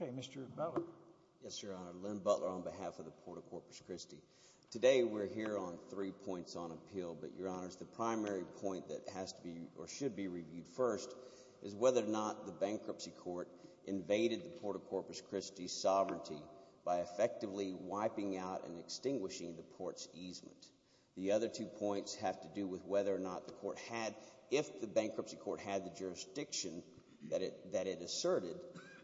Okay, Mr. Butler, yes, your honor, Lynn Butler on behalf of the Port of Corpus Christi. Today, we're here on three points on appeal, but your honors, the primary point that has to be or should be reviewed first is whether or not the bankruptcy court invaded the Port of Corpus Christi's sovereignty by effectively wiping out and extinguishing the port's easement. The other two points have to do with whether or not the court had, if the bankruptcy court had the jurisdiction that it asserted,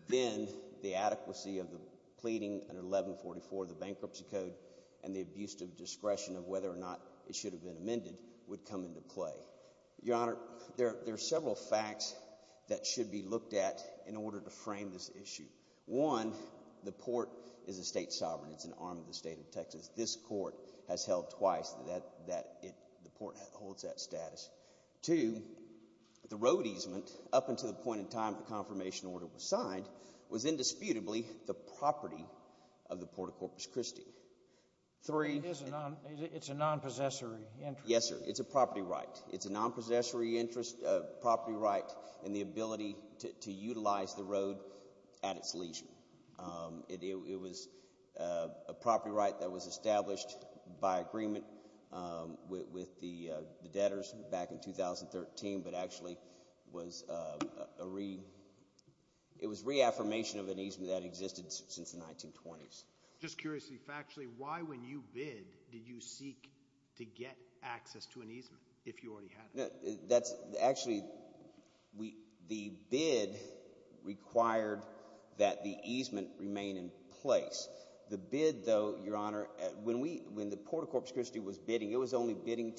then the adequacy of the pleading under 1144 of and the abuse of discretion of whether or not it should have been amended would come into play. Your honor, there are several facts that should be looked at in order to frame this issue. One, the port is a state sovereign, it's an arm of the state of Texas. This court has held twice that the port holds that status. Two, the road easement up until the point in time the confirmation order was signed was indisputably the property of the Port of Corpus Christi. Three... It's a non-possessory interest. Yes, sir. It's a property right. It's a non-possessory interest, a property right, and the ability to utilize the road at its lesion. It was a property right that was established by agreement with the debtors back in 2013, but actually it was reaffirmation of an easement that existed since the 1920s. Just curiously, factually, why when you bid, did you seek to get access to an easement if you already had it? Actually, the bid required that the easement remain in place. The bid, though, your honor, when the Port of Corpus Christi was bidding, it was only the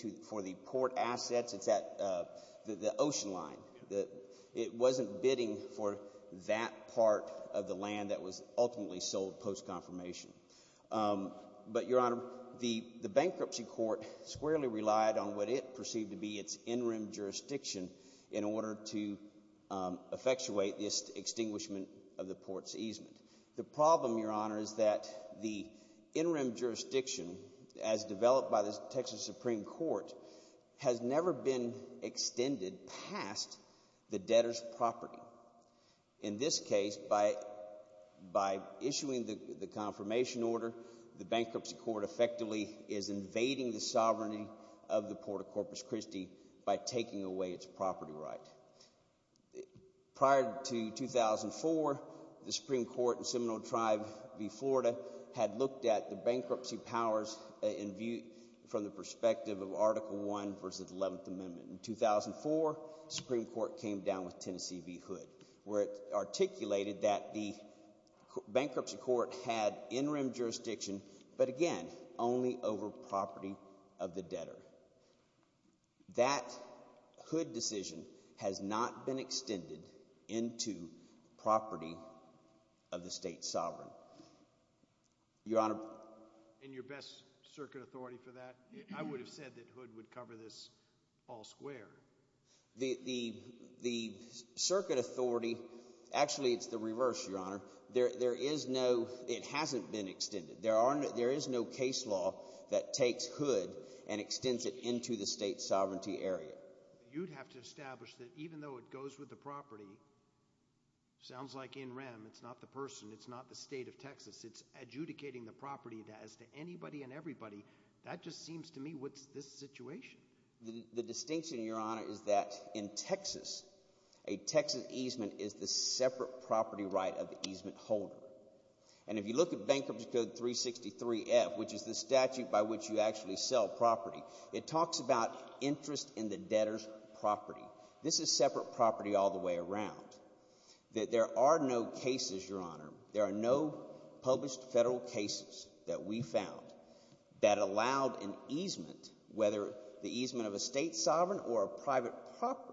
ocean line. It wasn't bidding for that part of the land that was ultimately sold post-confirmation. But your honor, the bankruptcy court squarely relied on what it perceived to be its in-room jurisdiction in order to effectuate this extinguishment of the port's easement. The problem, your honor, is that the in-room jurisdiction, as developed by the Texas Supreme Court, has never been extended past the debtor's property. In this case, by issuing the confirmation order, the bankruptcy court effectively is invading the sovereignty of the Port of Corpus Christi by taking away its property right. Prior to 2004, the Supreme Court in Seminole Tribe v. Florida had looked at the bankruptcy powers from the perspective of Article I v. Eleventh Amendment. In 2004, the Supreme Court came down with Tennessee v. Hood, where it articulated that the bankruptcy court had in-room jurisdiction, but again, only over property of the debtor. That Hood decision has not been extended into property of the state sovereign. Your honor? In your best circuit authority for that, I would have said that Hood would cover this all square. The circuit authority, actually it's the reverse, your honor. There is no, it hasn't been extended. There is no case law that takes Hood and extends it into the state sovereignty area. You'd have to establish that even though it goes with the property, sounds like in-rem, it's not the person, it's not the state of Texas. It's adjudicating the property as to anybody and everybody. That just seems to me, what's this situation? The distinction, your honor, is that in Texas, a Texas easement is the separate property right of the easement holder. And if you look at Bankruptcy Code 363-F, which is the statute by which you actually sell property, it talks about interest in the debtor's property. This is separate property all the way around. There are no cases, your honor, there are no published federal cases that we found that allowed an easement, whether the easement of a state sovereign or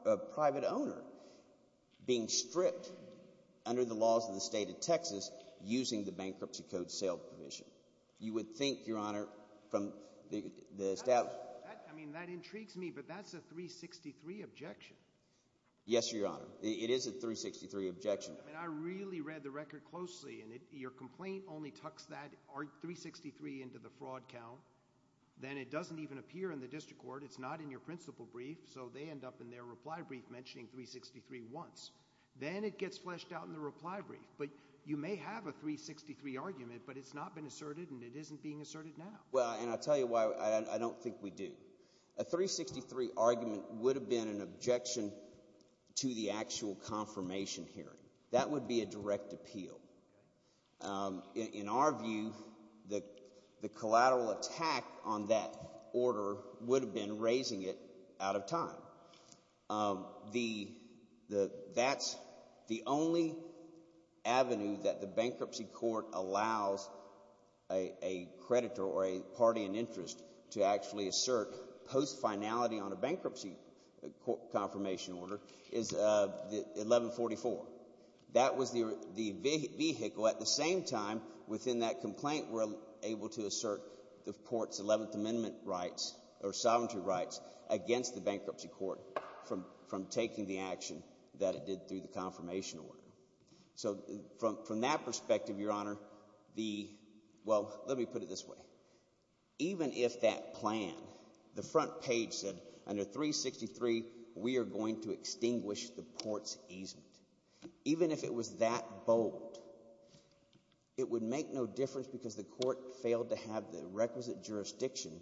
a private owner, being stripped under the laws of the state of Texas using the Bankruptcy Code sale provision. You would think, your honor, from the, the statute. I mean, that intrigues me, but that's a 363 objection. Yes, your honor. It is a 363 objection. I mean, I really read the record closely and your complaint only tucks that 363 into the fraud count, then it doesn't even appear in the district court, it's not in your principal brief, so they end up in their reply brief mentioning 363 once. Then it gets fleshed out in the reply brief, but you may have a 363 argument, but it's not been asserted and it isn't being asserted now. Well, and I'll tell you why I don't think we do. A 363 argument would have been an objection to the actual confirmation hearing. That would be a direct appeal. In our view, the collateral attack on that order would have been raising it out of time. The, that's the only avenue that the bankruptcy court allows a creditor or a party in interest to actually assert post-finality on a bankruptcy confirmation order is 1144. That was the vehicle at the same time within that complaint we're able to assert the court's 11th amendment rights or sovereignty rights against the bankruptcy court from taking the action that it did through the confirmation order. So from that perspective, your honor, the, well, let me put it this way. Even if that plan, the front page said under 363, we are going to extinguish the port's easement. Even if it was that bold, it would make no difference because the court failed to have the requisite jurisdiction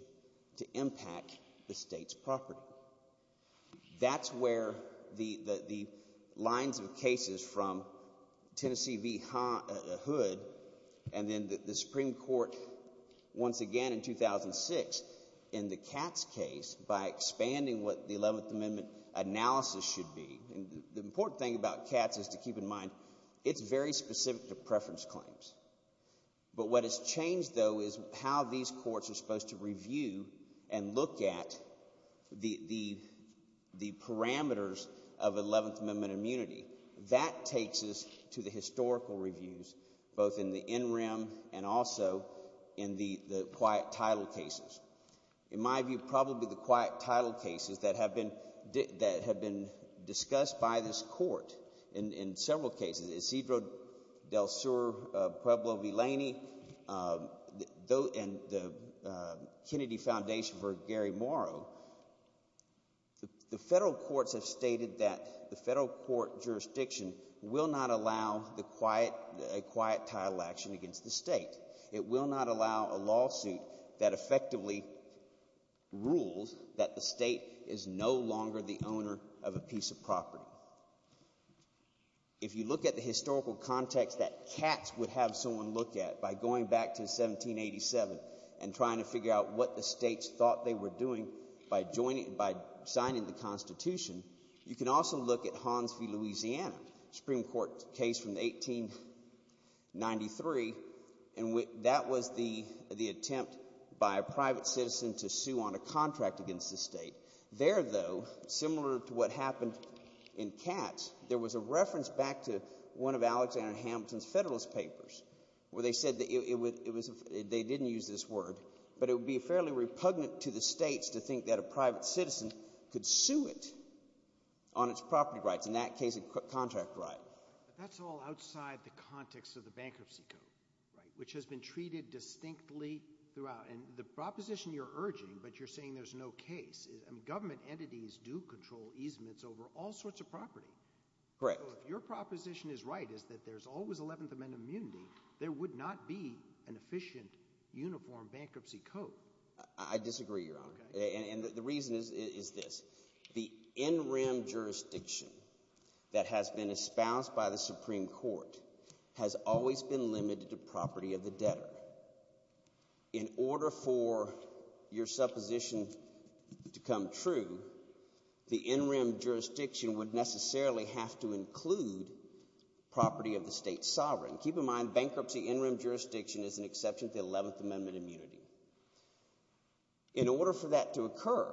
to impact the state's property. That's where the, the, the lines of cases from Tennessee v. Hood, and then the Supreme Court once again in 2006 in the Katz case by expanding what the 11th amendment analysis should be. And the important thing about Katz is to keep in mind it's very specific to preference claims. But what has changed though is how these courts are supposed to review and look at the, the, the parameters of 11th amendment immunity. That takes us to the historical reviews, both in the NREM and also in the, the quiet title cases. In my view, probably the quiet title cases that have been, that have been discussed by this court in, in several cases, Isidro del Sur Pueblo-Vilaini and the Kennedy Foundation v. Gary Morrow, the, the federal courts have stated that the federal court jurisdiction will not allow the quiet, a quiet title action against the state. It will not allow a lawsuit that effectively rules that the state is no longer the owner of a piece of property. If you look at the historical context that Katz would have someone look at by going back to 1787 and trying to figure out what the states thought they were doing by joining, by signing the Constitution, you can also look at Hans v. Louisiana, Supreme Court case from 1893, and that was the, the attempt by a private citizen to sue on a contract against the state. There though, similar to what happened in Katz, there was a reference back to one of the, they didn't use this word, but it would be fairly repugnant to the states to think that a private citizen could sue it on its property rights, in that case, a contract right. But that's all outside the context of the Bankruptcy Code, right, which has been treated distinctly throughout. And the proposition you're urging, but you're saying there's no case, is, I mean, government entities do control easements over all sorts of property. Correct. So if your proposition is right, is that there's always 11th Amendment immunity, there would not be an efficient, uniform Bankruptcy Code. I disagree, Your Honor, and the reason is, is this, the in-rim jurisdiction that has been espoused by the Supreme Court has always been limited to property of the debtor. In order for your supposition to come true, the in-rim jurisdiction would necessarily have to include property of the state sovereign. Keep in mind, bankruptcy in-rim jurisdiction is an exception to 11th Amendment immunity. In order for that to occur,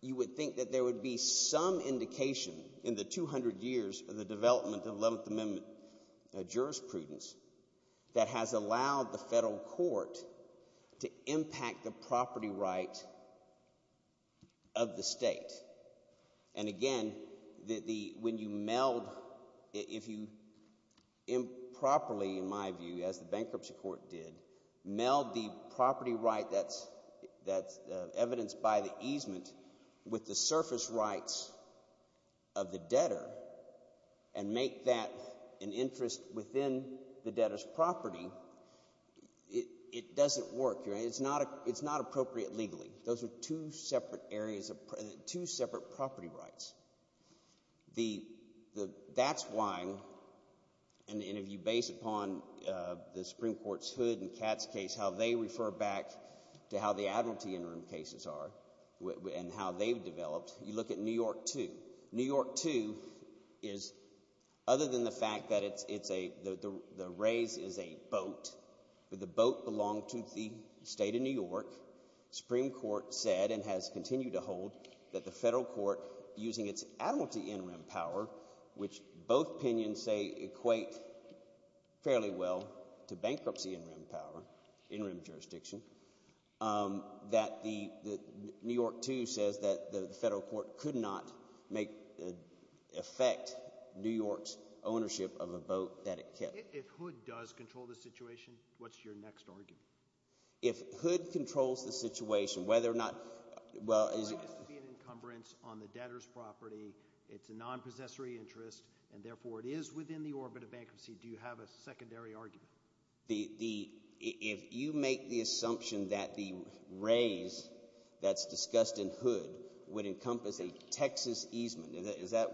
you would think that there would be some indication in the 200 years of the development of 11th Amendment jurisprudence that has allowed the federal court to impact the property right of the state. And again, when you meld, if you improperly, in my view, as the bankruptcy court did, meld the property right that's evidenced by the easement with the surface rights of the debtor and make that an interest within the debtor's property, it doesn't work, Your Honor. It's not appropriate legally. Those are two separate areas, two separate property rights. That's why, and if you base it upon the Supreme Court's Hood and Katz case, how they refer back to how the admiralty in-rim cases are and how they've developed, you look at New York 2. New York 2 is, other than the fact that it's a, the raise is a boat, but the boat belonged to the state of New York. Supreme Court said and has continued to hold that the federal court, using its admiralty in-rim power, which both opinions say equate fairly well to bankruptcy in-rim power, in-rim jurisdiction, that the New York 2 says that the federal court could not make, affect New York's ownership of a boat that it kept. If Hood does control the situation, what's your next argument? If Hood controls the situation, whether or not, well, is it... It's a right to be an encumbrance on the debtor's property. It's a non-possessory interest, and therefore it is within the orbit of bankruptcy. Do you have a secondary argument? If you make the assumption that the raise that's discussed in Hood would encompass a non-possessory interest, at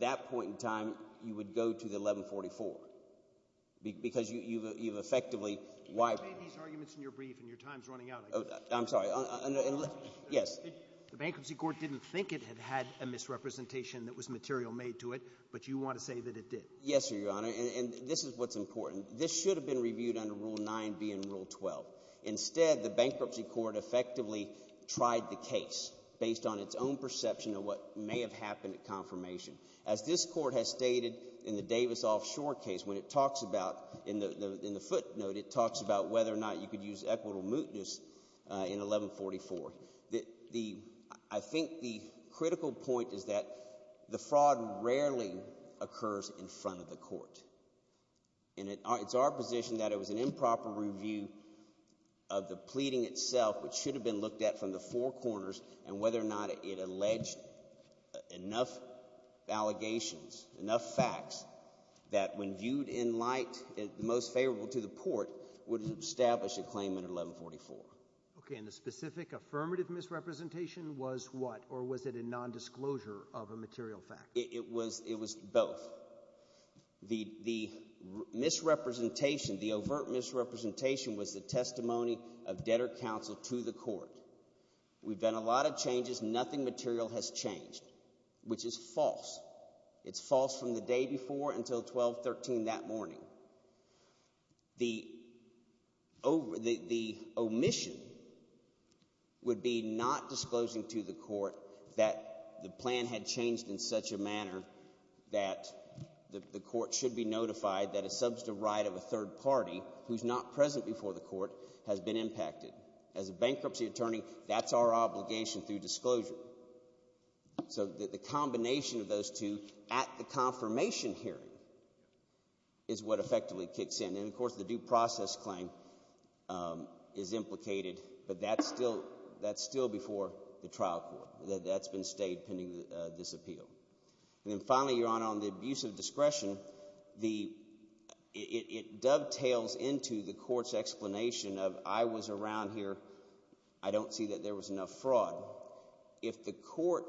that point in time, you would go to the 1144, because you've effectively... You've made these arguments in your brief, and your time's running out, I guess. I'm sorry. Yes. The Bankruptcy Court didn't think it had had a misrepresentation that was material made to it, but you want to say that it did. Yes, Your Honor, and this is what's important. This should have been reviewed under Rule 9B and Rule 12. Instead, the Bankruptcy Court effectively tried the case based on its own perception of what may have happened at confirmation. As this Court has stated in the Davis Offshore case, when it talks about... In the footnote, it talks about whether or not you could use equitable mootness in 1144. I think the critical point is that the fraud rarely occurs in front of the court. And it's our position that it was an improper review of the pleading itself, which should have been looked at from the four corners, and whether or not it alleged enough allegations, enough facts, that when viewed in light most favorable to the court, would have established a claim in 1144. Okay, and the specific affirmative misrepresentation was what, or was it a nondisclosure of a material fact? It was both. The misrepresentation, the overt misrepresentation was the testimony of debtor counsel to the court. We've done a lot of changes. Nothing material has changed, which is false. It's false from the day before until 1213 that morning. The omission would be not disclosing to the court that the plan had changed in such a manner that the court should be notified that a substantive right of a third party, who's not present before the court, has been impacted. As a bankruptcy attorney, that's our obligation through disclosure. So the combination of those two at the confirmation hearing is what effectively kicks in, and of course the due process claim is implicated, but that's still before the trial court. That's been stayed pending this appeal. And then finally, Your Honor, on the abuse of discretion, it dovetails into the court's explanation of, I was around here. I don't see that there was enough fraud. If the court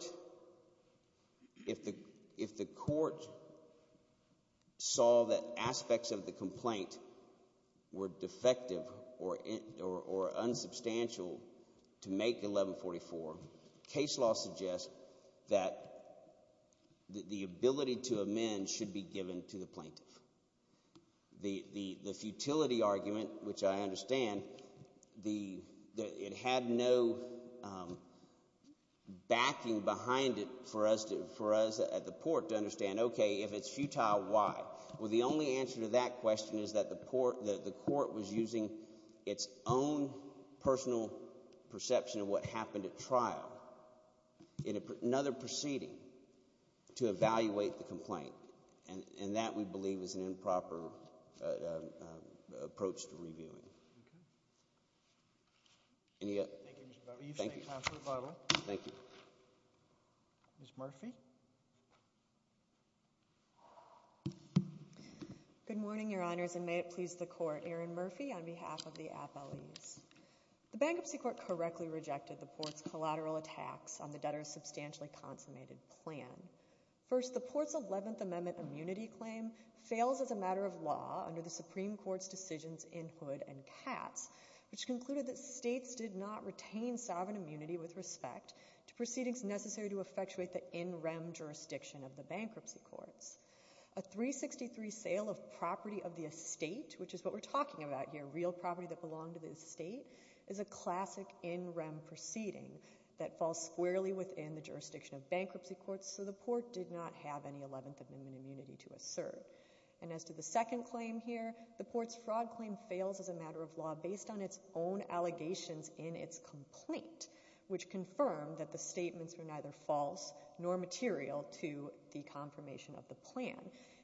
saw that aspects of the complaint were defective or unsubstantial to make 1144, case law suggests that the ability to amend should be given to the plaintiff. The futility argument, which I understand, it had no backing behind it for us at the court to understand, okay, if it's futile, why? Well, the only answer to that question is that the court was using its own personal perception of what happened at trial in another proceeding to evaluate the complaint, and that we believe is an improper approach to reviewing. Any other? Thank you. Thank you. Thank you. Ms. Murphy. Good morning, Your Honors, and may it please the court. Erin Murphy on behalf of the appellees. The Bankruptcy Court correctly rejected the court's collateral attacks on the debtor's substantially consummated plan. First, the court's 11th Amendment immunity claim fails as a matter of law under the Supreme Court's decisions in Hood and Katz, which concluded that states did not retain sovereign immunity with respect to proceedings necessary to effectuate the in-rem jurisdiction of the bankruptcy courts. A 363 sale of property of the estate, which is what we're talking about here, real property that belonged to the estate, is a classic in-rem proceeding that falls squarely within the jurisdiction of bankruptcy courts, so the court did not have any 11th Amendment immunity to assert. And as to the second claim here, the court's fraud claim fails as a matter of law based on its own allegations in its complaint, which confirmed that the statements were neither false nor material to the confirmation of the plan.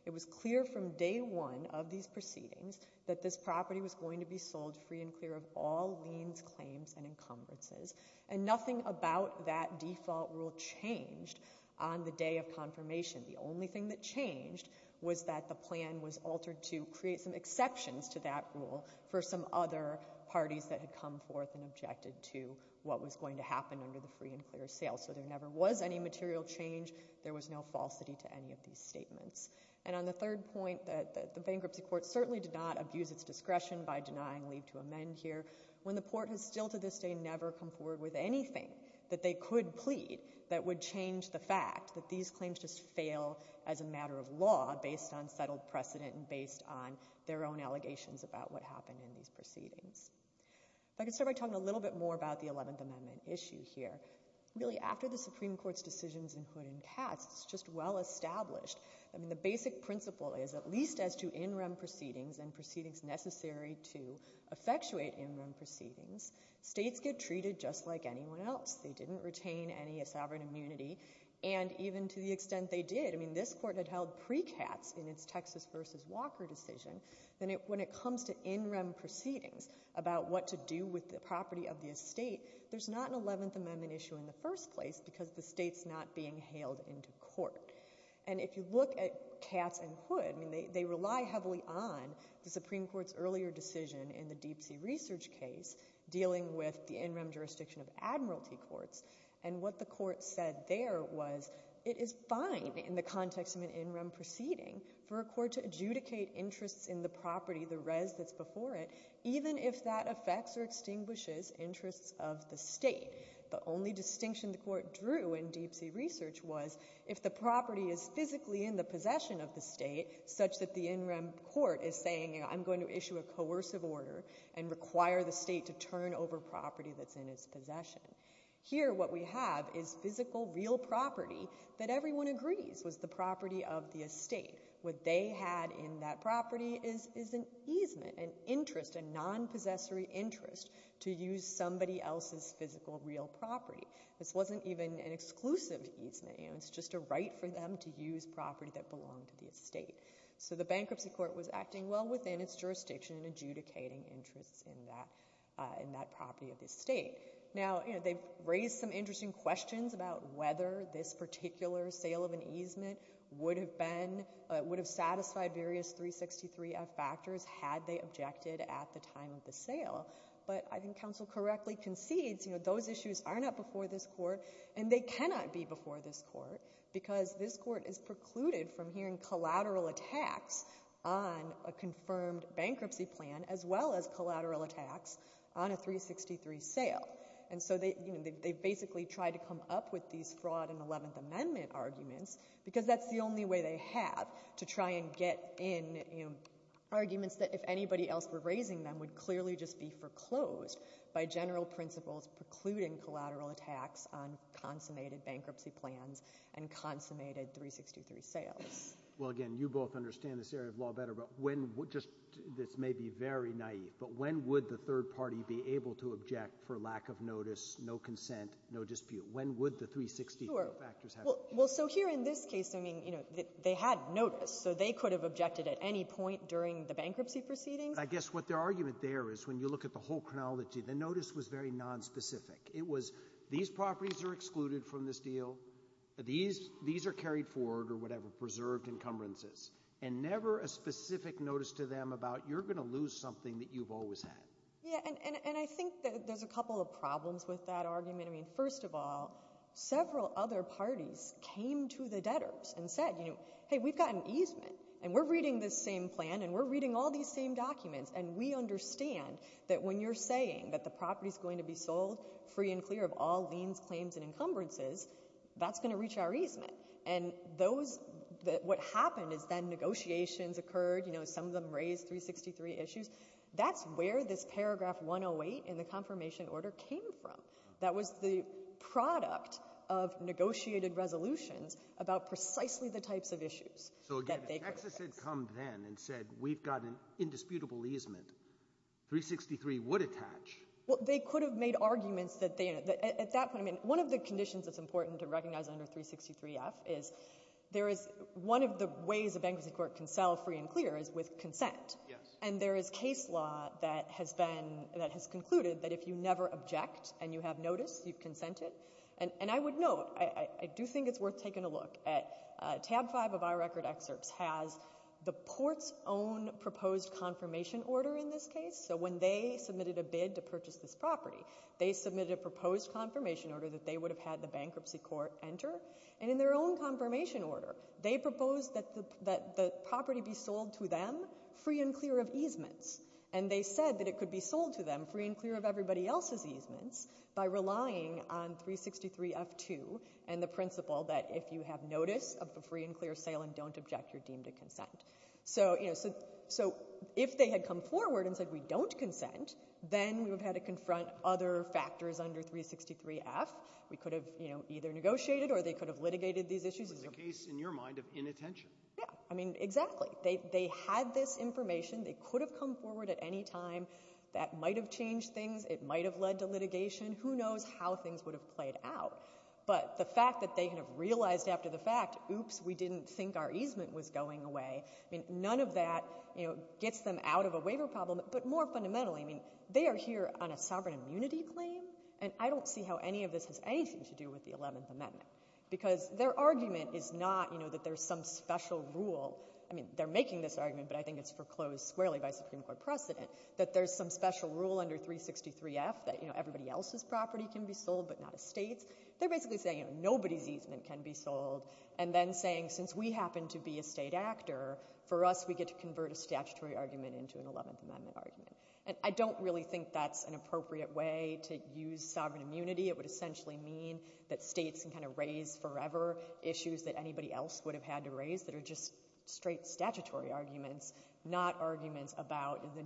It was clear from day one of these proceedings that this property was going to be sold free and clear of all liens, claims, and encumbrances. And nothing about that default rule changed on the day of confirmation. The only thing that changed was that the plan was altered to create some exceptions to that rule for some other parties that had come forth and objected to what was going to happen under the free and clear sale. So there never was any material change. There was no falsity to any of these statements. And on the third point that the bankruptcy court certainly did not abuse its discretion by denying leave to amend here, when the court has still to this day never come forward with anything that they could plead that would change the fact that these claims just fail as a matter of law based on settled precedent and based on their own allegations about what happened in these proceedings. If I could start by talking a little bit more about the 11th Amendment issue here, really after the Supreme Court's decisions in Hood and Katz, it's just well established. I mean, the basic principle is at least as to in rem proceedings and proceedings necessary to effectuate in rem proceedings, states get treated just like anyone else. They didn't retain any sovereign immunity. And even to the extent they did, I mean, this court had held pre-Katz in its Texas versus Walker decision, then when it comes to in rem proceedings about what to do with the property of the estate, there's not an 11th Amendment issue in the first place because the state's not being hailed into court. And if you look at Katz and Hood, I mean, they rely heavily on the Supreme Court's earlier decision in the Deep Sea Research case dealing with the in rem jurisdiction of admiralty courts. And what the court said there was it is fine in the context of an in rem proceeding for a court to adjudicate interests in the property, the res that's before it, even if that affects or extinguishes interests of the state. The only distinction the court drew in Deep Sea Research was if the property is physically in the possession of the state such that the in rem court is saying, you know, I'm going to issue a coercive order and require the state to turn over property that's in its possession. Here, what we have is physical real property that everyone agrees was the property of the estate. What they had in that property is an easement, an interest, a non-possessory interest to use somebody else's physical real property. This wasn't even an exclusive easement, you know, it's just a right for them to use property that belonged to the estate. So the bankruptcy court was acting well within its jurisdiction in adjudicating interests in that property of the state. Now, you know, they've raised some interesting questions about whether this particular sale of an easement would have been, would have satisfied various 363F factors had they objected at the time of the sale. But I think counsel correctly concedes, you know, those issues are not before this court and they cannot be before this court because this court is precluded from hearing collateral attacks on a confirmed bankruptcy plan as well as collateral attacks on a 363 sale. And so they, you know, they basically tried to come up with these fraud and Eleventh Amendment arguments because that's the only way they have to try and get in arguments that if anybody else were raising them would clearly just be foreclosed by general principles precluding collateral attacks on consummated bankruptcy plans and consummated 363 sales. Well, again, you both understand this area of law better, but when, just, this may be very naive, but when would the third party be able to object for lack of notice, no consent, no dispute? When would the 363 factors happen? Well, so here in this case, I mean, you know, they had notice. So they could have objected at any point during the bankruptcy proceedings. I guess what their argument there is when you look at the whole chronology, the notice was very nonspecific. It was these properties are excluded from this deal. These are carried forward or whatever, preserved encumbrances. And never a specific notice to them about you're going to lose something that you've always had. Yeah, and I think that there's a couple of problems with that argument. I mean, first of all, several other parties came to the debtors and said, you know, hey, we've got an easement, and we're reading this same plan, and we're reading all these same documents, and we understand that when you're saying that the property's going to be sold free and clear of all liens, claims, and encumbrances, that's going to reach our easement. And those, what happened is then negotiations occurred. You know, some of them raised 363 issues. That's where this paragraph 108 in the confirmation order came from. That was the product of negotiated resolutions about precisely the types of issues. So again, if Texas had come then and said we've got an indisputable easement, 363 would attach. Well, they could have made arguments that they, at that point, I mean, one of the conditions that's important to recognize under 363-F is there is one of the ways a bankruptcy court can sell free and clear is with consent. Yes. And there is case law that has been, that has concluded that if you never object and you have noticed, you've consented. And I would note, I do think it's worth taking a look at tab 5 of our record excerpts has the port's own proposed confirmation order in this case. So when they submitted a bid to purchase this property, they submitted a proposed confirmation order that they would have had the bankruptcy court enter. And in their own confirmation order, they proposed that the property be sold to them free and clear of easements. And they said that it could be sold to them free and clear of everybody else's easements by relying on 363-F2 and the principle that if you have notice of the free and clear sale and don't object, you're deemed to consent. So, you know, so if they had come forward and said we don't consent, then we would have had to confront other factors under 363-F. We could have, you know, either negotiated or they could have litigated these issues. It was a case, in your mind, of inattention. Yeah. I mean, exactly. They had this information. They could have come forward at any time. That might have changed things. It might have led to litigation. Who knows how things would have played out. But the fact that they kind of realized after the fact, oops, we didn't think our easement was going away, I mean, none of that, you know, gets them out of a waiver problem. But more fundamentally, I mean, they are here on a sovereign immunity claim and I don't see how any of this has anything to do with the 11th Amendment because their argument is not, you know, that there's some special rule. I mean, they're making this argument, but I think it's foreclosed squarely by Supreme Court precedent that there's some special rule under 363-F that, you know, everybody else's property can be sold but not a state's. They're basically saying, you know, nobody's easement can be sold and then saying since we happen to be a state actor, for us we get to convert a statutory argument into an 11th Amendment argument. And I don't really think that's an appropriate way to use sovereign immunity. It would essentially mean that states can kind of raise forever issues that anybody else would have had to raise that are just straight statutory arguments, not arguments about the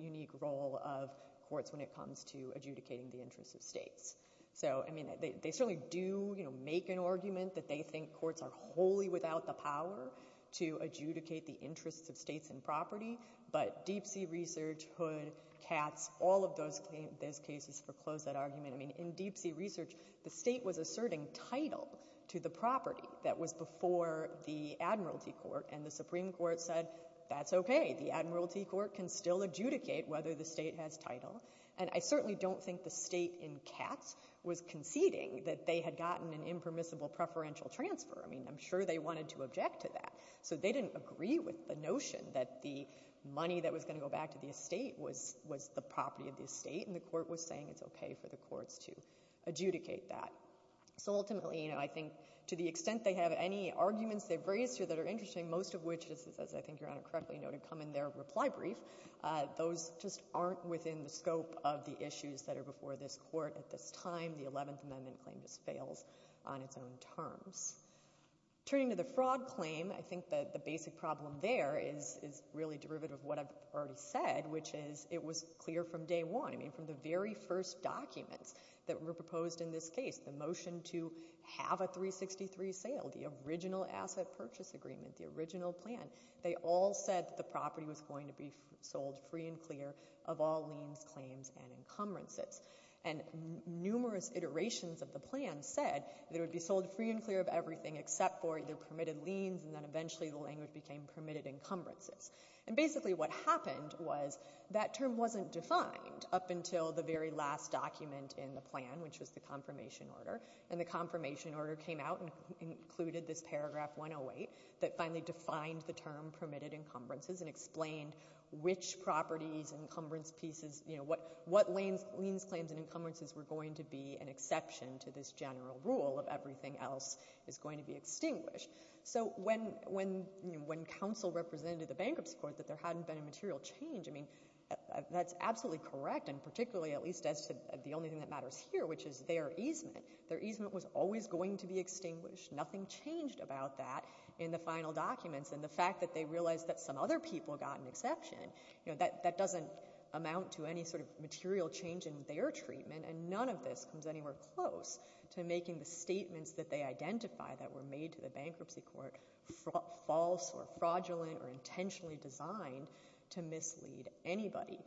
unique role of courts when it comes to adjudicating the interests of states. So, I mean, they certainly do, you know, make an argument that they think courts are wholly without the power to adjudicate the interests of states and property. But Deep Sea Research, Hood, Katz, all of those cases foreclose that argument. I mean, in Deep Sea Research, the state was asserting title to the property that was before the Admiralty Court and the Supreme Court said, that's OK. The Admiralty Court can still adjudicate whether the state has title. And I certainly don't think the state in Katz was conceding that they had gotten an impermissible preferential transfer. I mean, I'm sure they wanted to object to that. So they didn't agree with the notion that the money that was going to go back to the estate was the property of the estate and the court was saying it's OK for the courts to adjudicate that. So ultimately, you know, I think to the extent they have any arguments they've raised here that are interesting, most of which, as I think Your Honour correctly noted, come in their reply brief, those just aren't within the scope of the issues that are before this court at this time. The 11th Amendment claim just fails on its own terms. Turning to the fraud claim, I think that the basic problem there is really derivative of what I've already said, which is it was clear from day one. I mean, from the very first documents that were proposed in this case, the motion to have a 363 sale, the original asset purchase agreement, the original plan, they all said that the property was going to be sold free and clear of all liens, claims and encumbrances. And numerous iterations of the plan said it would be sold free and clear of everything except for the permitted liens and then eventually the language became permitted encumbrances. And basically what happened was that term wasn't defined up until the very last document in the plan, which was the confirmation order. And the confirmation order came out and included this paragraph 108 that finally defined the term permitted encumbrances and explained which properties, encumbrance pieces, what liens, claims and encumbrances were going to be an exception to this general rule of everything else is going to be extinguished. So when counsel represented the bankruptcy court that there hadn't been a material change, I mean, that's absolutely correct. And particularly, at least as the only thing that matters here, which is their easement, their easement was always going to be extinguished. Nothing changed about that in the final documents. And the fact that they realized that some other people got an exception, you know, that doesn't amount to any sort of material change in their treatment and none of this comes anywhere close to making the statements that they identify that were made to the bankruptcy court false or fraudulent or intentionally designed to mislead anybody.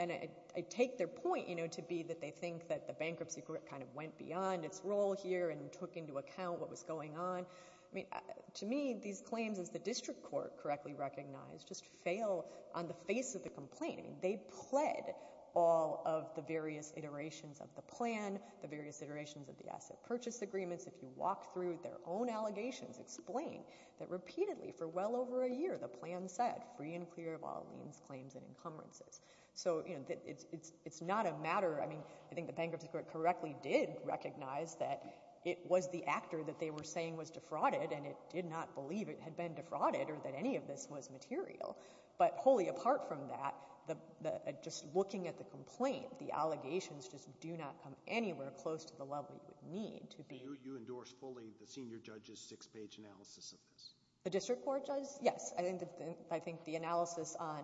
And I take their point, you know, to be that they think that the bankruptcy court kind of went beyond its role here and took into account what was going on. I mean, to me, these claims, as the district court correctly recognized, just fail on the face of the complaint. I mean, they pled all of the various iterations of the plan, the various iterations of the asset purchase agreements. If you walk through their own allegations, explain that repeatedly for well over a year, the plan said free and clear of all liens, claims and encumbrances. So, you know, it's not a matter. I mean, I think the bankruptcy court correctly did recognize that it was the actor that they were saying was defrauded and it did not believe it had been defrauded or that any of this was material. But wholly apart from that, just looking at the complaint, the allegations just do not come anywhere close to the level you would need to be. You endorse fully the senior judge's six-page analysis of this? The district court does? Yes. I think the analysis on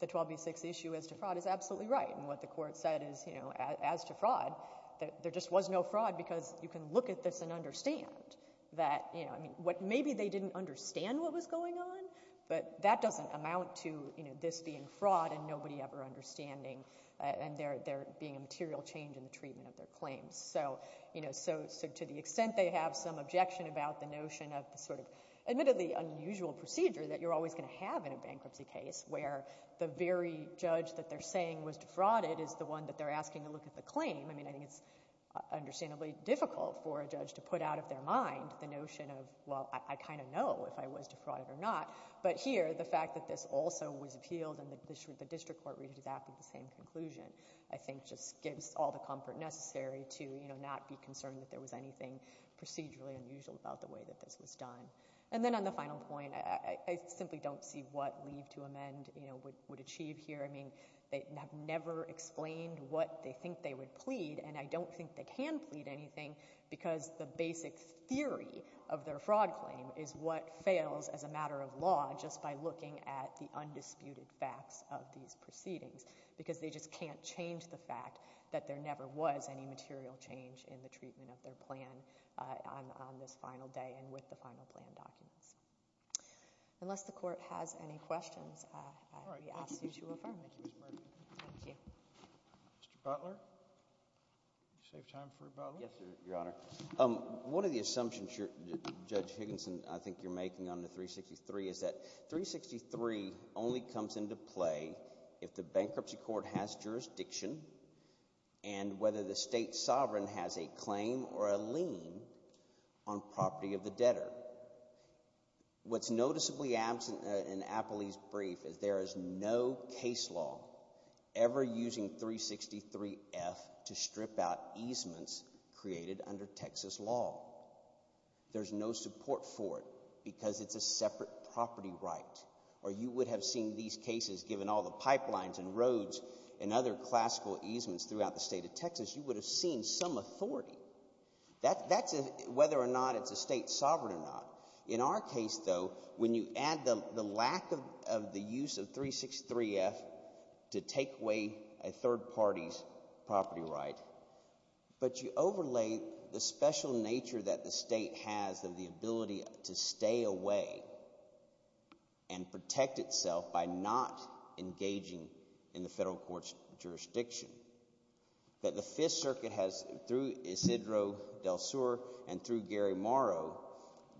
the 12B6 issue as to fraud is absolutely right. And what the court said is, you know, as to fraud, that there just was no fraud because you can look at this and understand that, you know, I mean, what maybe they didn't understand what was going on, but that doesn't amount to, you know, this being fraud and nobody ever understanding and there being a material change in the treatment of their claims. So, you know, so to the extent they have some objection about the notion of the sort of admittedly unusual procedure that you're always going to have in a bankruptcy case where the very judge that they're saying was defrauded is the one that they're asking to look at the claim, I mean, I think it's understandably difficult for a judge to put out of their mind the notion of, well, I kind of know if I was defrauded or not. But here, the fact that this also was appealed and the district court re-examined the same conclusion, I think just gives all the comfort necessary to, you know, not be concerned that there was anything procedurally unusual about the way that this was done. And then on the final point, I simply don't see what leave to amend, you know, would achieve here. I mean, they have never explained what they think they would plead and I don't think they can plead anything because the basic theory of their fraud claim is what fails as a matter of law just by looking at the undisputed facts of these proceedings because they just can't change the fact that there never was any material change in the treatment of their plan on this final day and with the final plan documents. Unless the court has any questions, we ask you to affirm the case. Thank you. Mr. Butler? Save time for Butler? Yes, Your Honor. One of the assumptions Judge Higginson, I think, you're making on the 363 is that 363 only comes into play if the bankruptcy court has jurisdiction and whether the state sovereign has a claim or a lien on property of the debtor. What's noticeably absent in Apley's brief is there is no case law ever using 363F to strip out easements created under Texas law. There's no support for it because it's a separate property right or you would have seen these cases given all the pipelines and roads and other classical easements throughout the state of Texas, you would have seen some authority. That's whether or not it's a state sovereign or not. In our case, though, when you add the lack of the use of 363F to take away a third party's property right, but you overlay the special nature that the state has of the ability to stay away and protect itself by not engaging in the federal court's jurisdiction. That the Fifth Circuit has, through Isidro del Sur and through Gary Morrow,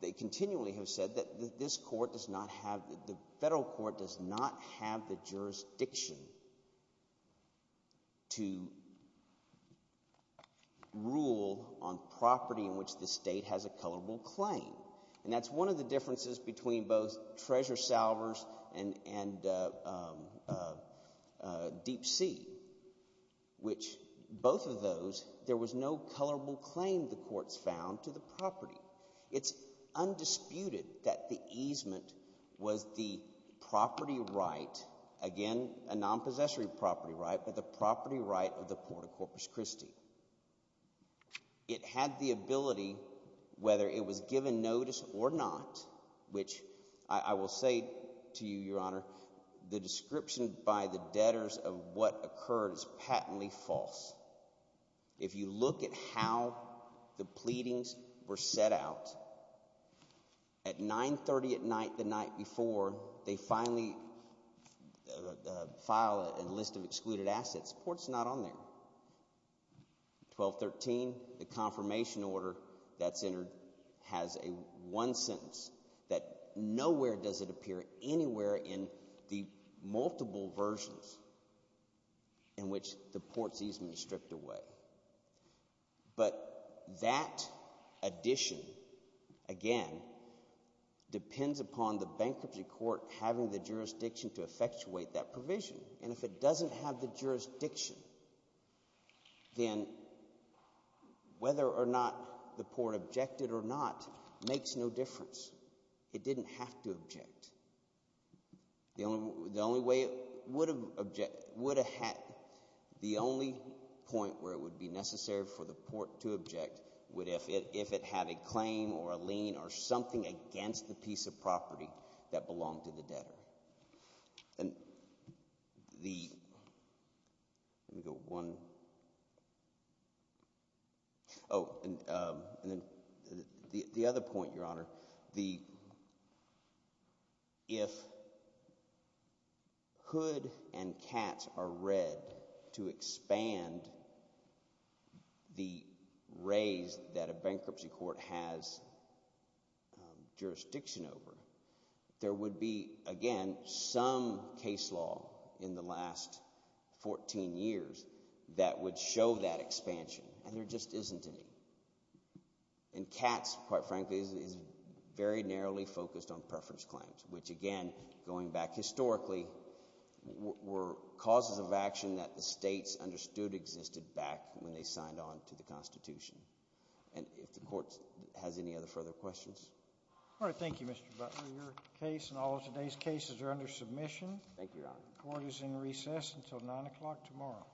they continually have said that this court does not have, that the federal court does not have the jurisdiction to rule on property in which the state has a colorable claim. And that's one of the differences between both treasure salvers and Deep Sea, which both of those, there was no colorable claim the courts found to the property. It's undisputed that the easement was the property right, again a non-possessory property right, but the property right of the Port of Corpus Christi. It had the ability, whether it was given notice or not, which I will say to you, your honor, the description by the debtors of what occurred is patently false. If you look at how the pleadings were set out, at 930 at night the night before, they finally file a list of excluded assets, the court's not on there. 1213, the confirmation order that's entered has a one sentence that nowhere does it appear anywhere in the multiple versions in which the port's easement is stripped away. But that addition, again, depends upon the bankruptcy court having the jurisdiction to effectuate that provision. And if it doesn't have the jurisdiction, then whether or not the port objected or not makes no difference. It didn't have to object. The only way it would have objected, would have had, the only point where it would be necessary for the port to object, would if it had a claim or a lien or something against the piece of property that belonged to the debtor. And the, let me go one, oh, and then the other point, your honor, the, if hood and cats are read to expand the raise that a bankruptcy court has jurisdiction over, there would be, again, some case law in the last 14 years that would show that expansion, and there just isn't any. And cats, quite frankly, is very narrowly focused on preference claims, which again, going back historically, were causes of action that the states understood existed back when they signed on to the Constitution. And if the court has any other further questions. All right, thank you, Mr. Butler. Your case and all of today's cases are under submission. Thank you, your honor. Court is in recess until 9 o'clock tomorrow.